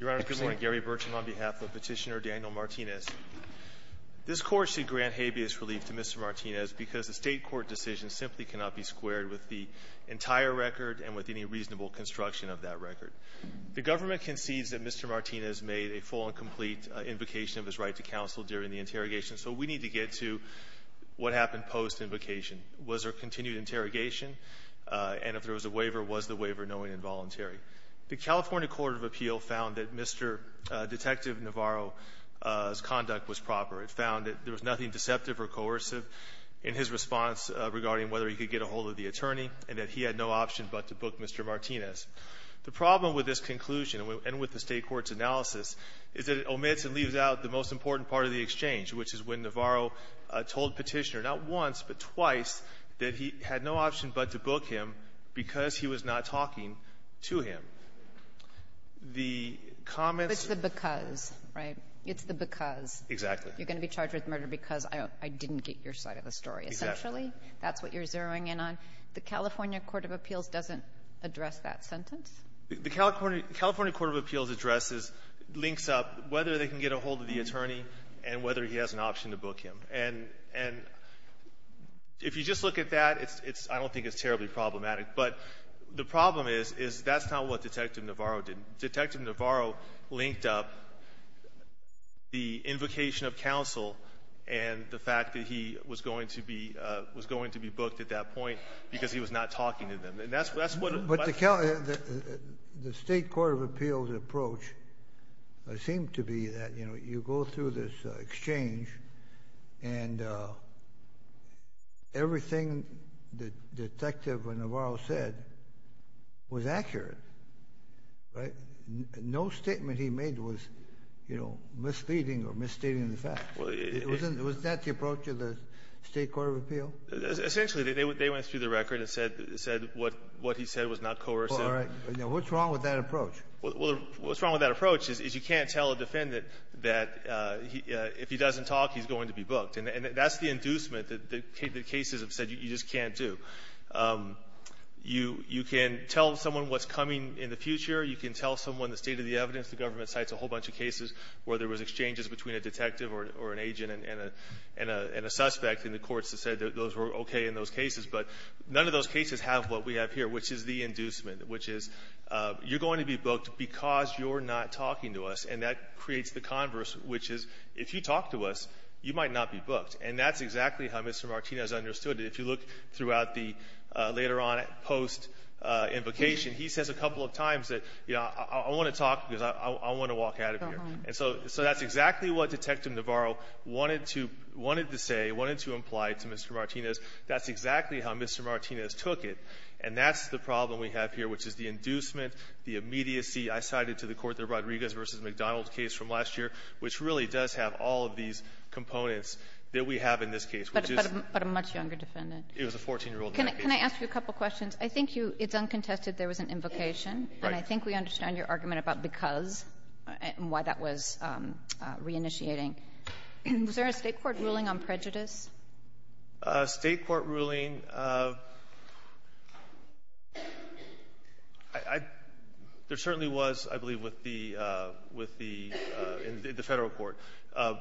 Your Honor, good morning. Gary Burcham on behalf of Petitioner Daniel Martinez. This Court should grant habeas relief to Mr. Martinez because the state court decision simply cannot be squared with the entire record and with any reasonable construction of that record. The government concedes that Mr. Martinez made a full and complete invocation of his right to counsel during the interrogation, so we need to get to what happened post-invocation. Was there a continued interrogation? And if there was a waiver, was the waiver knowing involuntary? The California Court of Appeal found that Mr. Detective Navarro's conduct was proper. It found that there was nothing deceptive or coercive in his response regarding whether he could get a hold of the attorney and that he had no option but to book Mr. Martinez. The problem with this conclusion and with the state court's analysis is that it omits and leaves out the most important part of the exchange, which is when Navarro told Petitioner not once but twice that he had no option but to book him because he was not talking to him. The comments of the ---- Kagan. It's the because, right? It's the because. Martinez. Exactly. Kagan. You're going to be charged with murder because I didn't get your side of the story. Martinez. Exactly. Kagan. Essentially, that's what you're zeroing in on. The California Court of Appeals doesn't address that sentence? Martinez. The California Court of Appeals addresses, links up whether they can get a hold of the attorney and whether he has an option to book him. And if you just look at that, I don't think it's terribly problematic. But the problem is that's not what Detective Navarro did. Detective Navarro linked up the invocation of counsel and the fact that he was going to be booked at that point because he was not talking to them. And that's what Kagan. But the state court of appeals approach seemed to be that you go through this exchange and everything that Detective Navarro said was accurate, right? No statement he made was, you know, misleading or misstating the facts. Wasn't that the approach of the state court of appeal? Martinez. Essentially, they went through the record and said what he said was not coercive. Kagan. All right. What's wrong with that approach? Well, what's wrong with that approach is you can't tell a defendant that if he doesn't talk, he's going to be booked. And that's the inducement that the cases have said you just can't do. You can tell someone what's coming in the future. You can tell someone the state of the evidence. The government cites a whole bunch of cases where there was exchanges between a detective or an agent and a suspect, and the courts have said that those were okay in those cases. But none of those cases have what we have here, which is the inducement, which is you're going to be booked because you're not talking to us. And that creates the converse, which is if you talk to us, you might not be booked. And that's exactly how Mr. Martinez understood it. If you look throughout the later on post invocation, he says a couple of times that, you know, I want to talk because I want to walk out of here. And so that's exactly what Detective Navarro wanted to wanted to say, wanted to imply to Mr. Martinez, that's exactly how Mr. Martinez took it. And that's the problem we have here, which is the inducement, the immediacy. I cited to the court the Rodriguez v. McDonald case from last year, which really does have all of these components that we have in this case. Kagan. But a much younger defendant. It was a 14-year-old. Can I ask you a couple questions? I think you — it's uncontested there was an invocation. And I think we understand your argument about because and why that was reinitiating. Was there a State court ruling on prejudice? State court ruling, I — there certainly was, I believe, with the — with the — in the Federal court.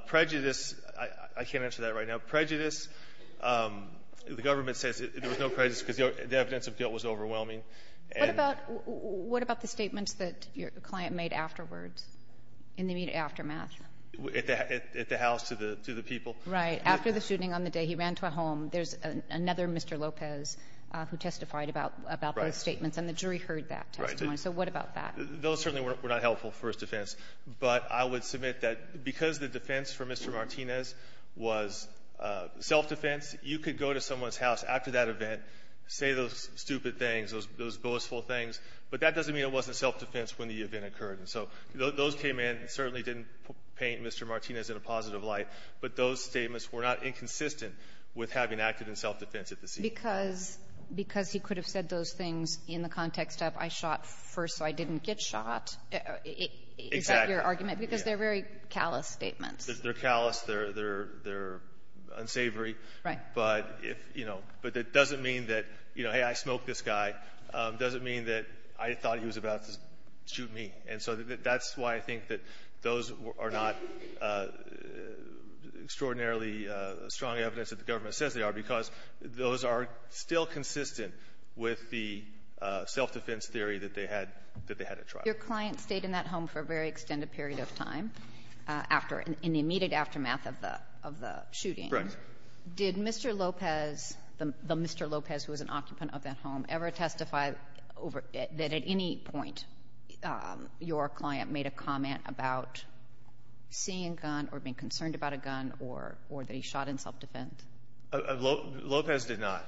Prejudice, I can't answer that right now. Prejudice, the government says there was no prejudice because the evidence of guilt was overwhelming. What about — what about the statements that your client made afterwards, in the immediate aftermath? At the House, to the people. Right. After the shooting on the day he ran to a home, there's another Mr. Lopez who testified about — about those statements. Right. And the jury heard that testimony. Right. So what about that? Those certainly were not helpful for his defense. But I would submit that because the defense for Mr. Martinez was self-defense, you could go to someone's house after that event, say those stupid things, those boastful things, but that doesn't mean it wasn't self-defense when the event occurred. And so those came in. It certainly didn't paint Mr. Martinez in a positive light. But those statements were not inconsistent with having acted in self-defense at the scene. Because — because he could have said those things in the context of I shot first so I didn't get shot. Exactly. Is that your argument? Because they're very callous statements. They're callous. They're — they're unsavory. Right. But if, you know — but it doesn't mean that, you know, hey, I smoked this guy. It doesn't mean that I thought he was about to shoot me. And so that's why I think that those are not extraordinarily strong evidence that the government says they are, because those are still consistent with the self-defense theory that they had — that they had at trial. Your client stayed in that home for a very extended period of time after — in the immediate aftermath of the — of the shooting. Right. Did Mr. Lopez, the Mr. Lopez who was an occupant of that home, ever testify over — that at any point your client made a comment about seeing a gun or being concerned about a gun or — or that he shot in self-defense? Lopez did not.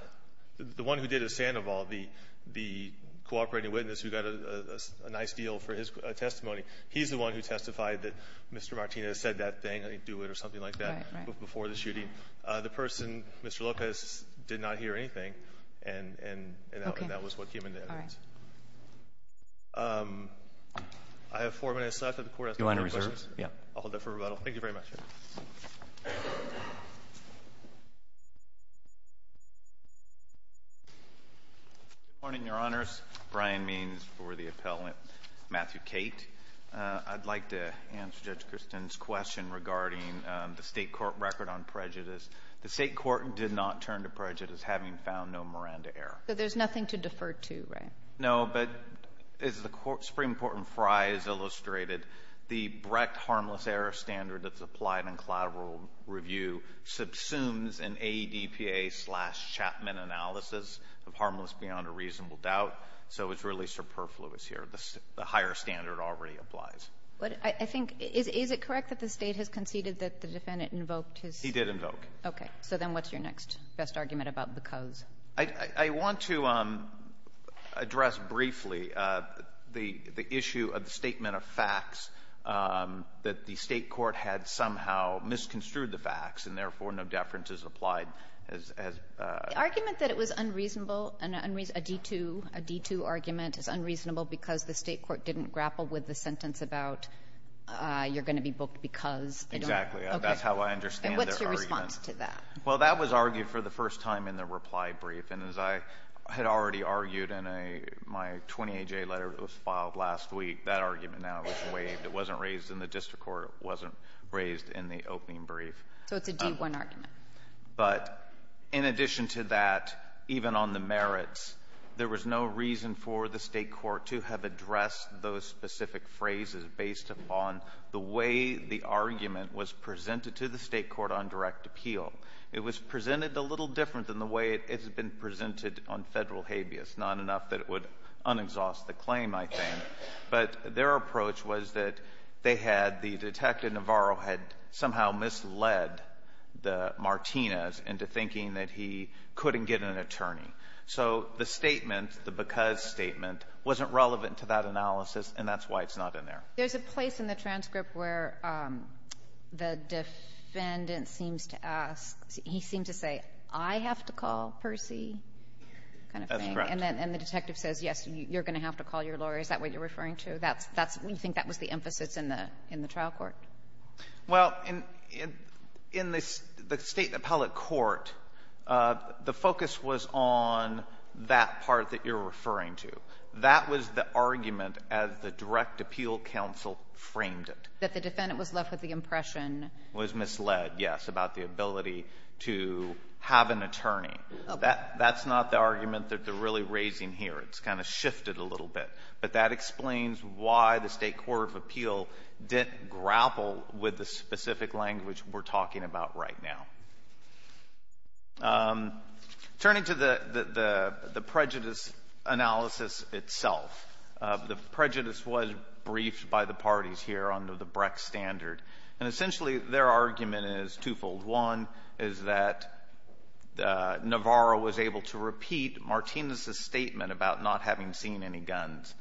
The one who did is Sandoval, the — the cooperating witness who got a nice deal for his testimony. He's the one who testified that Mr. Martinez said that thing, I didn't do it, or something like that before the shooting. Right, right. The person, Mr. Lopez, did not hear anything, and — and that was what came into evidence. All right. I have four minutes left, and the court has — Do you want to reserve? Yeah. I'll hold that for rebuttal. Thank you very much. Good morning, Your Honors. Brian Means for the appellant, Matthew Cate. I'd like to answer Judge Kristen's question regarding the state court record on prejudice. The state court did not turn to prejudice, having found no Miranda error. So there's nothing to defer to, right? No. But as the Supreme Court in Frye has illustrated, the Brecht harmless error standard that's applied in collateral review subsumes an ADPA-slash-Chapman analysis of harmless beyond a reasonable doubt, so it's really superfluous here. The higher standard already applies. But I think — is it correct that the State has conceded that the defendant invoked his — He did invoke. Okay. So then what's your next best argument about because? I want to address briefly the issue of the statement of facts that the state court had somehow misconstrued the facts and therefore no deference is applied as — The argument that it was unreasonable, a D-2 argument, is unreasonable because the state court didn't grapple with the sentence about you're going to be booked because — That's how I understand their argument. Okay. And what's your response to that? Well, that was argued for the first time in the reply brief. And as I had already argued in a — my 28-J letter that was filed last week, that argument now was waived. It wasn't raised in the district court. It wasn't raised in the opening brief. So it's a D-1 argument. But in addition to that, even on the merits, there was no reason for the state court to have addressed those specific phrases based upon the way the argument was presented to the state court on direct appeal. It was presented a little different than the way it has been presented on federal habeas, not enough that it would un-exhaust the claim, I think. But their approach was that they had — the Detective Navarro had somehow misled the Martinez into thinking that he couldn't get an attorney. So the statement, the because statement, wasn't relevant to that analysis, and that's why it's not in there. There's a place in the transcript where the defendant seems to ask — he seems to say, I have to call Percy kind of thing. That's correct. And then the detective says, yes, you're going to have to call your lawyer. Is that what you're referring to? That's — that's — you think that was the emphasis in the — in the trial court? Well, in — in the State appellate court, the focus was on that part that you're referring to. That was the argument as the direct appeal counsel framed it. That the defendant was left with the impression — Was misled, yes, about the ability to have an attorney. Okay. That's not the argument that they're really raising here. It's kind of shifted a little bit. But that explains why the State court of appeal didn't grapple with the specific language we're talking about right now. Turning to the — the prejudice analysis itself, the prejudice was briefed by the parties here under the Brex standard. And essentially, their argument is twofold. One is that Navarro was able to repeat Martinez's statement about not having seen any guns.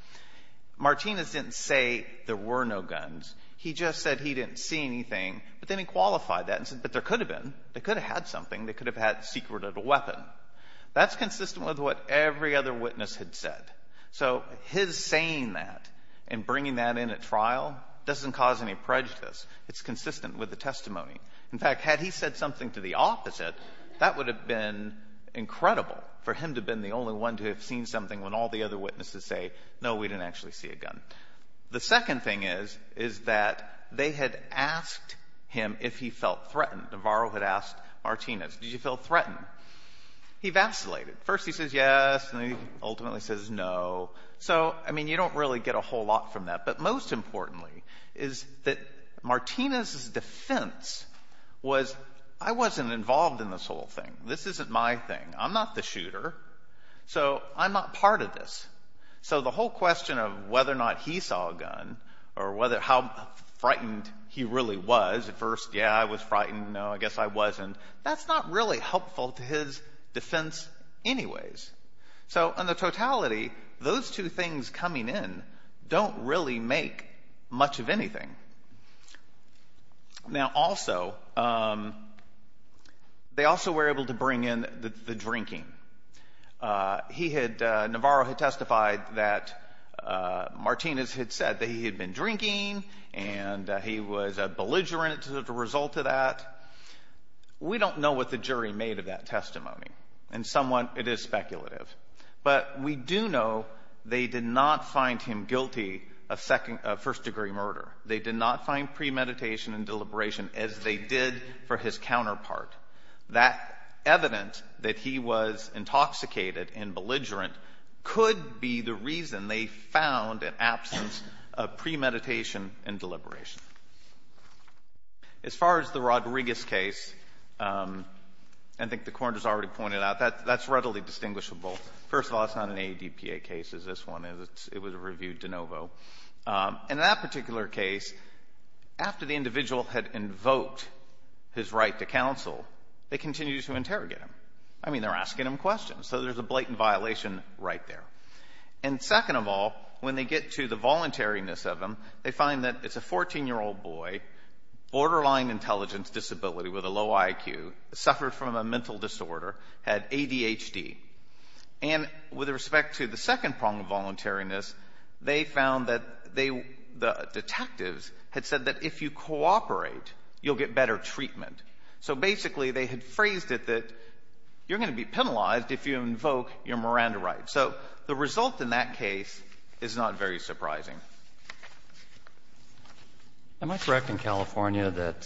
Martinez didn't say there were no guns. He just said he didn't see anything. But then he qualified that and said, but there could have been. They could have had something. They could have had the secret of the weapon. That's consistent with what every other witness had said. So his saying that and bringing that in at trial doesn't cause any prejudice. It's consistent with the testimony. In fact, had he said something to the opposite, that would have been incredible for him to have been the only one to have seen something when all the other witnesses say, no, we didn't actually see a gun. The second thing is, is that they had asked him if he felt threatened. Navarro had asked Martinez, did you feel threatened? He vacillated. First he says yes, and then he ultimately says no. So I mean, you don't really get a whole lot from that. But most importantly is that Martinez's defense was, I wasn't involved in this whole thing. This isn't my thing. I'm not the shooter. So I'm not part of this. So the whole question of whether or not he saw a gun or how frightened he really was at first, yeah, I was frightened, no, I guess I wasn't. That's not really helpful to his defense anyways. So in the totality, those two things coming in don't really make much of anything. Now also, they also were able to bring in the drinking. He had, Navarro had testified that Martinez had said that he had been drinking and he was a belligerent as a result of that. We don't know what the jury made of that testimony. And somewhat, it is speculative. But we do know they did not find him guilty of first degree murder. They did not find premeditation and deliberation as they did for his counterpart. That evidence that he was intoxicated and belligerent could be the reason they found an absence of premeditation and deliberation. As far as the Rodriguez case, I think the court has already pointed out that that's readily distinguishable. First of all, it's not an ADPA case as this one is. It was reviewed de novo. In that particular case, after the individual had invoked his right to counsel, they continued to interrogate him. I mean, they're asking him questions. So there's a blatant violation right there. And second of all, when they get to the voluntariness of him, they find that it's a 14-year-old boy, borderline intelligence disability with a low IQ, suffered from a mental disorder, had ADHD. And with respect to the second prong of voluntariness, they found that the detectives had said that if you cooperate, you'll get better treatment. So basically, they had phrased it that you're going to be penalized if you invoke your Miranda right. So the result in that case is not very surprising. Am I correct in California that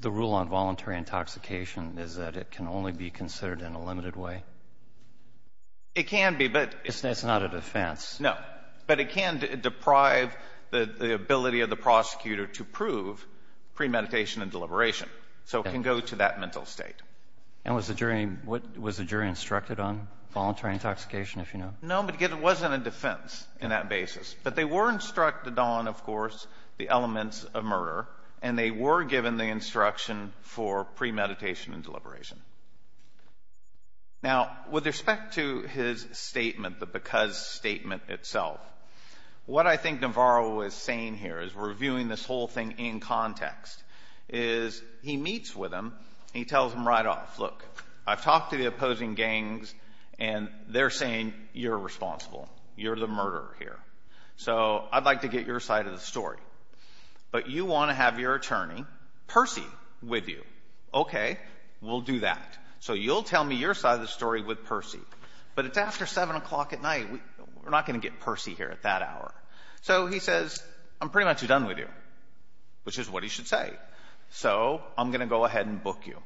the rule on voluntary intoxication is that it can only be considered in a limited way? It can be, but — It's not a defense. No. But it can deprive the ability of the prosecutor to prove premeditation and deliberation. So it can go to that mental state. And was the jury — was the jury instructed on voluntary intoxication, if you know? No, but it wasn't a defense in that basis. But they were instructed on, of course, the elements of murder, and they were given the instruction for premeditation and deliberation. Now, with respect to his statement, the because statement itself, what I think Navarro is saying here is we're viewing this whole thing in context, is he meets with him, he tells him right off, look, I've talked to the opposing gangs, and they're saying you're responsible. You're the murderer here. So I'd like to get your side of the story. But you want to have your attorney, Percy, with you. Okay. We'll do that. So you'll tell me your side of the story with Percy. But it's after 7 o'clock at night. We're not going to get Percy here at that hour. So he says, I'm pretty much done with you, which is what he should say. So I'm going to go ahead and book you.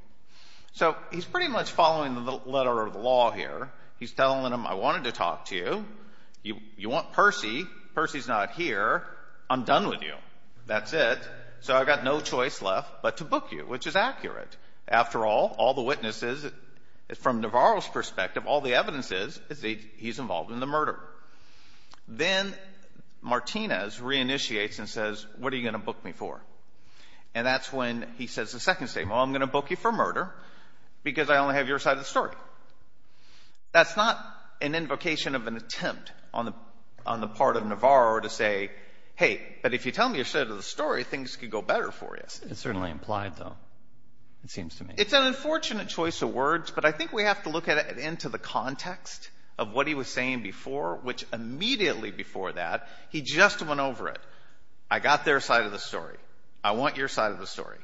So he's pretty much following the letter of the law here. He's telling him, I wanted to talk to you. You want Percy. Percy's not here. I'm done with you. That's it. So I've got no choice left but to book you, which is accurate. After all, all the witnesses, from Navarro's perspective, all the evidence is, is he's involved in the murder. Then Martinez reinitiates and says, what are you going to book me for? And that's when he says the second statement, well, I'm going to book you for murder because I only have your side of the story. That's not an invocation of an attempt on the part of Navarro to say, hey, but if you tell me your side of the story, things could go better for you. It's certainly implied, though, it seems to me. It's an unfortunate choice of words, but I think we have to look at it into the context of what he was saying before, which immediately before that, he just went over it. I got their side of the story. I want your side of the story.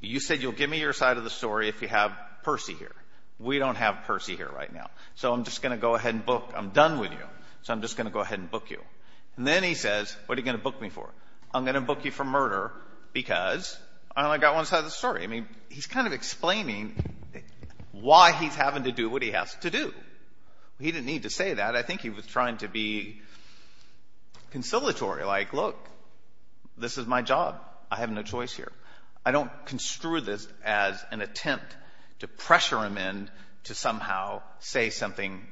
You said you'll give me your side of the story if you have Percy here. We don't have Percy here right now. So I'm just going to go ahead and book. I'm done with you. So I'm just going to go ahead and book you. And then he says, what are you going to book me for? I'm going to book you for murder because I only got one side of the story. I mean, he's kind of explaining why he's having to do what he has to do. He didn't need to say that. But I think he was trying to be conciliatory, like, look, this is my job. I have no choice here. I don't construe this as an attempt to pressure him in to somehow say something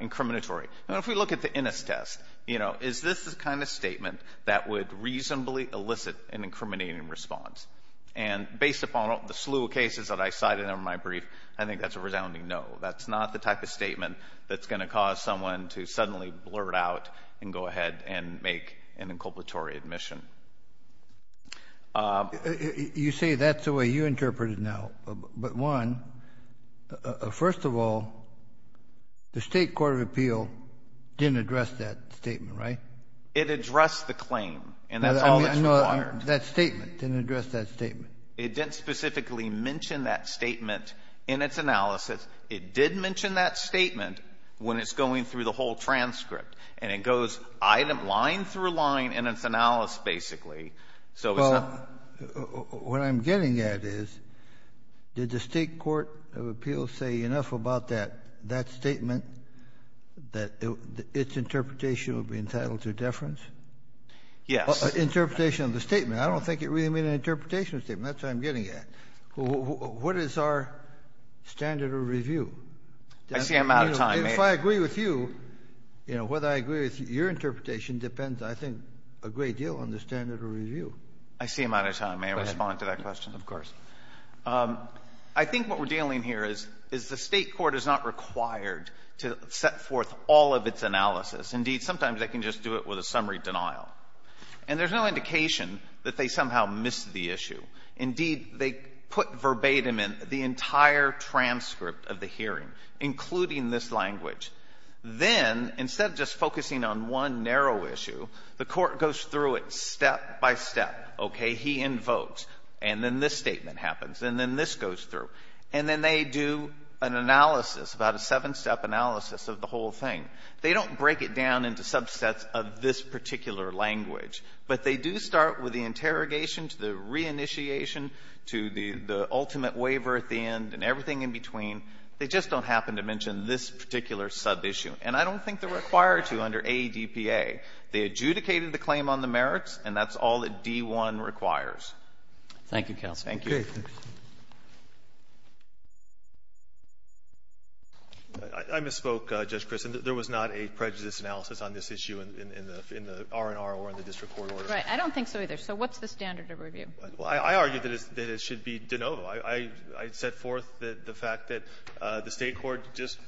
incriminatory. If we look at the Innis test, you know, is this the kind of statement that would reasonably elicit an incriminating response? And based upon the slew of cases that I cited in my brief, I think that's a resounding no. That's not the type of statement that's going to cause someone to suddenly blurt out and go ahead and make an inculpatory admission. You say that's the way you interpret it now. But one, first of all, the State Court of Appeal didn't address that statement, right? It addressed the claim. And that's all that's required. That statement. It didn't address that statement. It didn't specifically mention that statement in its analysis. It did mention that statement when it's going through the whole transcript. And it goes item line through line in its analysis, basically. So it's not the way it's supposed to be. Kennedy, what I'm getting at is, did the State Court of Appeal say enough about that statement that its interpretation would be entitled to deference? Yes. Interpretation of the statement. I don't think it really made an interpretation of the statement. That's what I'm getting at. What is our standard of review? I see I'm out of time, Mayor. If I agree with you, you know, whether I agree with your interpretation depends, I think, a great deal on the standard of review. I see I'm out of time, Mayor. Respond to that question. Of course. I think what we're dealing here is, is the State court is not required to set forth all of its analysis. Indeed, sometimes they can just do it with a summary denial. And there's no indication that they somehow missed the issue. Indeed, they put verbatim in the entire transcript of the hearing, including this language. Then, instead of just focusing on one narrow issue, the court goes through it step by step, okay? He invokes, and then this statement happens, and then this goes through. And then they do an analysis, about a seven-step analysis of the whole thing. They don't break it down into subsets of this particular language. But they do start with the interrogation to the reinitiation to the ultimate waiver at the end and everything in between. They just don't happen to mention this particular sub-issue. And I don't think they're required to under AEDPA. They adjudicated the claim on the merits, and that's all that D-1 requires. Thank you, counsel. Thank you. Okay. Thanks. I misspoke, Judge Christen. There was not a prejudice analysis on this issue in the R&R or in the district court order. Right. I don't think so, either. So what's the standard of review? Well, I argue that it should be de novo. I set forth the fact that the State court just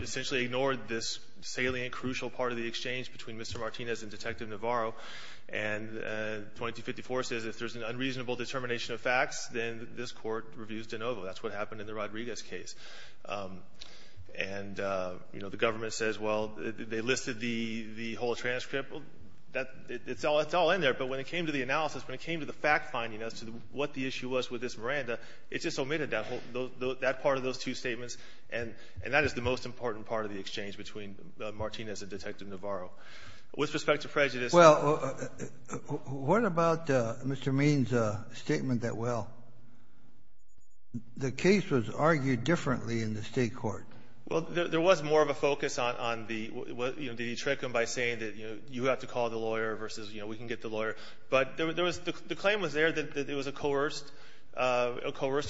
essentially ignored this salient, crucial part of the exchange between Mr. Martinez and Detective Navarro. And 2254 says if there's an unreasonable determination of facts, then this court reviews de novo. That's what happened in the Rodriguez case. And, you know, the government says, well, they listed the whole transcript. It's all in there. But when it came to the analysis, when it came to the fact finding as to what the issue was with this Miranda, it just omitted that part of those two statements. And that is the most important part of the exchange between Martinez and Detective Navarro. With respect to prejudice. Well, what about Mr. Means' statement that, well, the case was argued differently in the State court? Well, there was more of a focus on the, you know, did he trick them by saying that, you know, you have to call the lawyer versus, you know, we can get the lawyer. But there was the claim was there that it was a coerced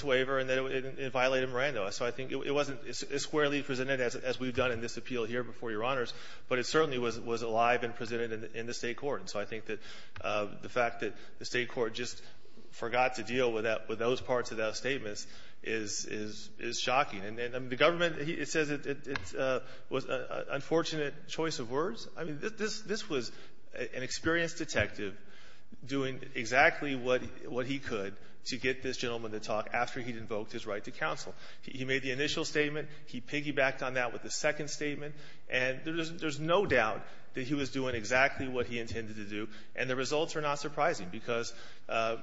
waiver and that it violated Miranda. So I think it wasn't as squarely presented as we've done in this appeal here before Your Honors, but it certainly was alive and presented in the State court. And so I think that the fact that the State court just forgot to deal with that, with And the government, it says it was an unfortunate choice of words. I mean, this was an experienced detective doing exactly what he could to get this gentleman to talk after he'd invoked his right to counsel. He made the initial statement. He piggybacked on that with the second statement. And there's no doubt that he was doing exactly what he intended to do. And the results are not surprising, because,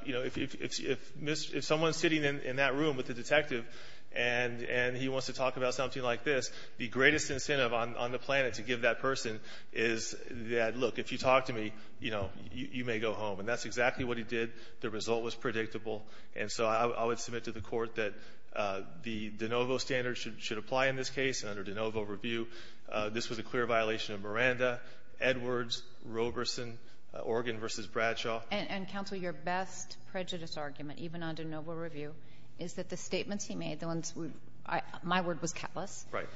you know, if someone's sitting in that room with a detective and he wants to talk about something like this, the greatest incentive on the planet to give that person is that, look, if you talk to me, you know, you may go home. And that's exactly what he did. The result was predictable. And so I would submit to the Court that the de novo standards should apply in this case under de novo review. This was a clear violation of Miranda, Edwards, Roberson, Oregon v. Bradshaw. And, Counsel, your best prejudice argument, even under de novo review, is that the statements he made, the ones we've – my word was countless. Right.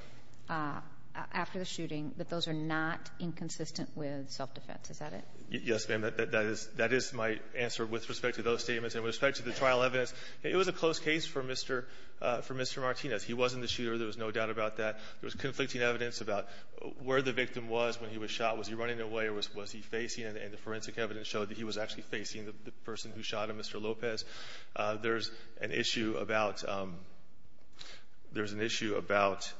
After the shooting, that those are not inconsistent with self-defense. Is that it? Yes, ma'am. That is my answer with respect to those statements. And with respect to the trial evidence, it was a close case for Mr. Martinez. He wasn't the shooter. There was no doubt about that. There was conflicting evidence about where the victim was when he was shot. Was he running away or was he facing? And the forensic evidence showed that he was actually facing the person who shot him, Mr. Lopez. There's an issue about – there's an issue about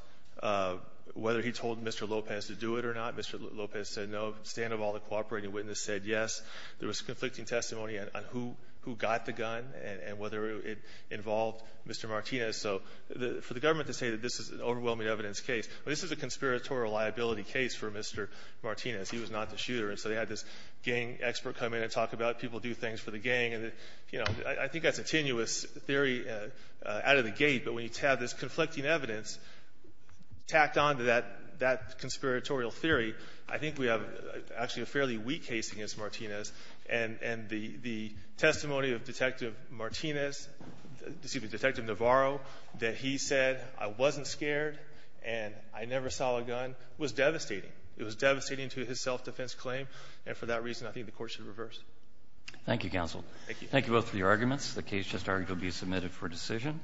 whether he told Mr. Lopez to do it or not. Mr. Lopez said no. The stand of all the cooperating witnesses said yes. There was conflicting testimony on who got the gun and whether it involved Mr. Martinez. So for the government to say that this is an overwhelming evidence case, this is a conspiratorial liability case for Mr. Martinez. He was not the shooter. And so they had this gang expert come in and talk about people do things for the gang. And, you know, I think that's a tenuous theory out of the gate. But when you have this conflicting evidence tacked on to that conspiratorial theory, I think we have actually a fairly weak case against Martinez. And the testimony of Detective Martinez – excuse me, Detective Navarro, that he said, I wasn't scared and I never saw a gun, was devastating. It was devastating to his self-defense claim. And for that reason, I think the court should reverse. Thank you, counsel. Thank you. Thank you both for your arguments. The case just argued to be submitted for decision.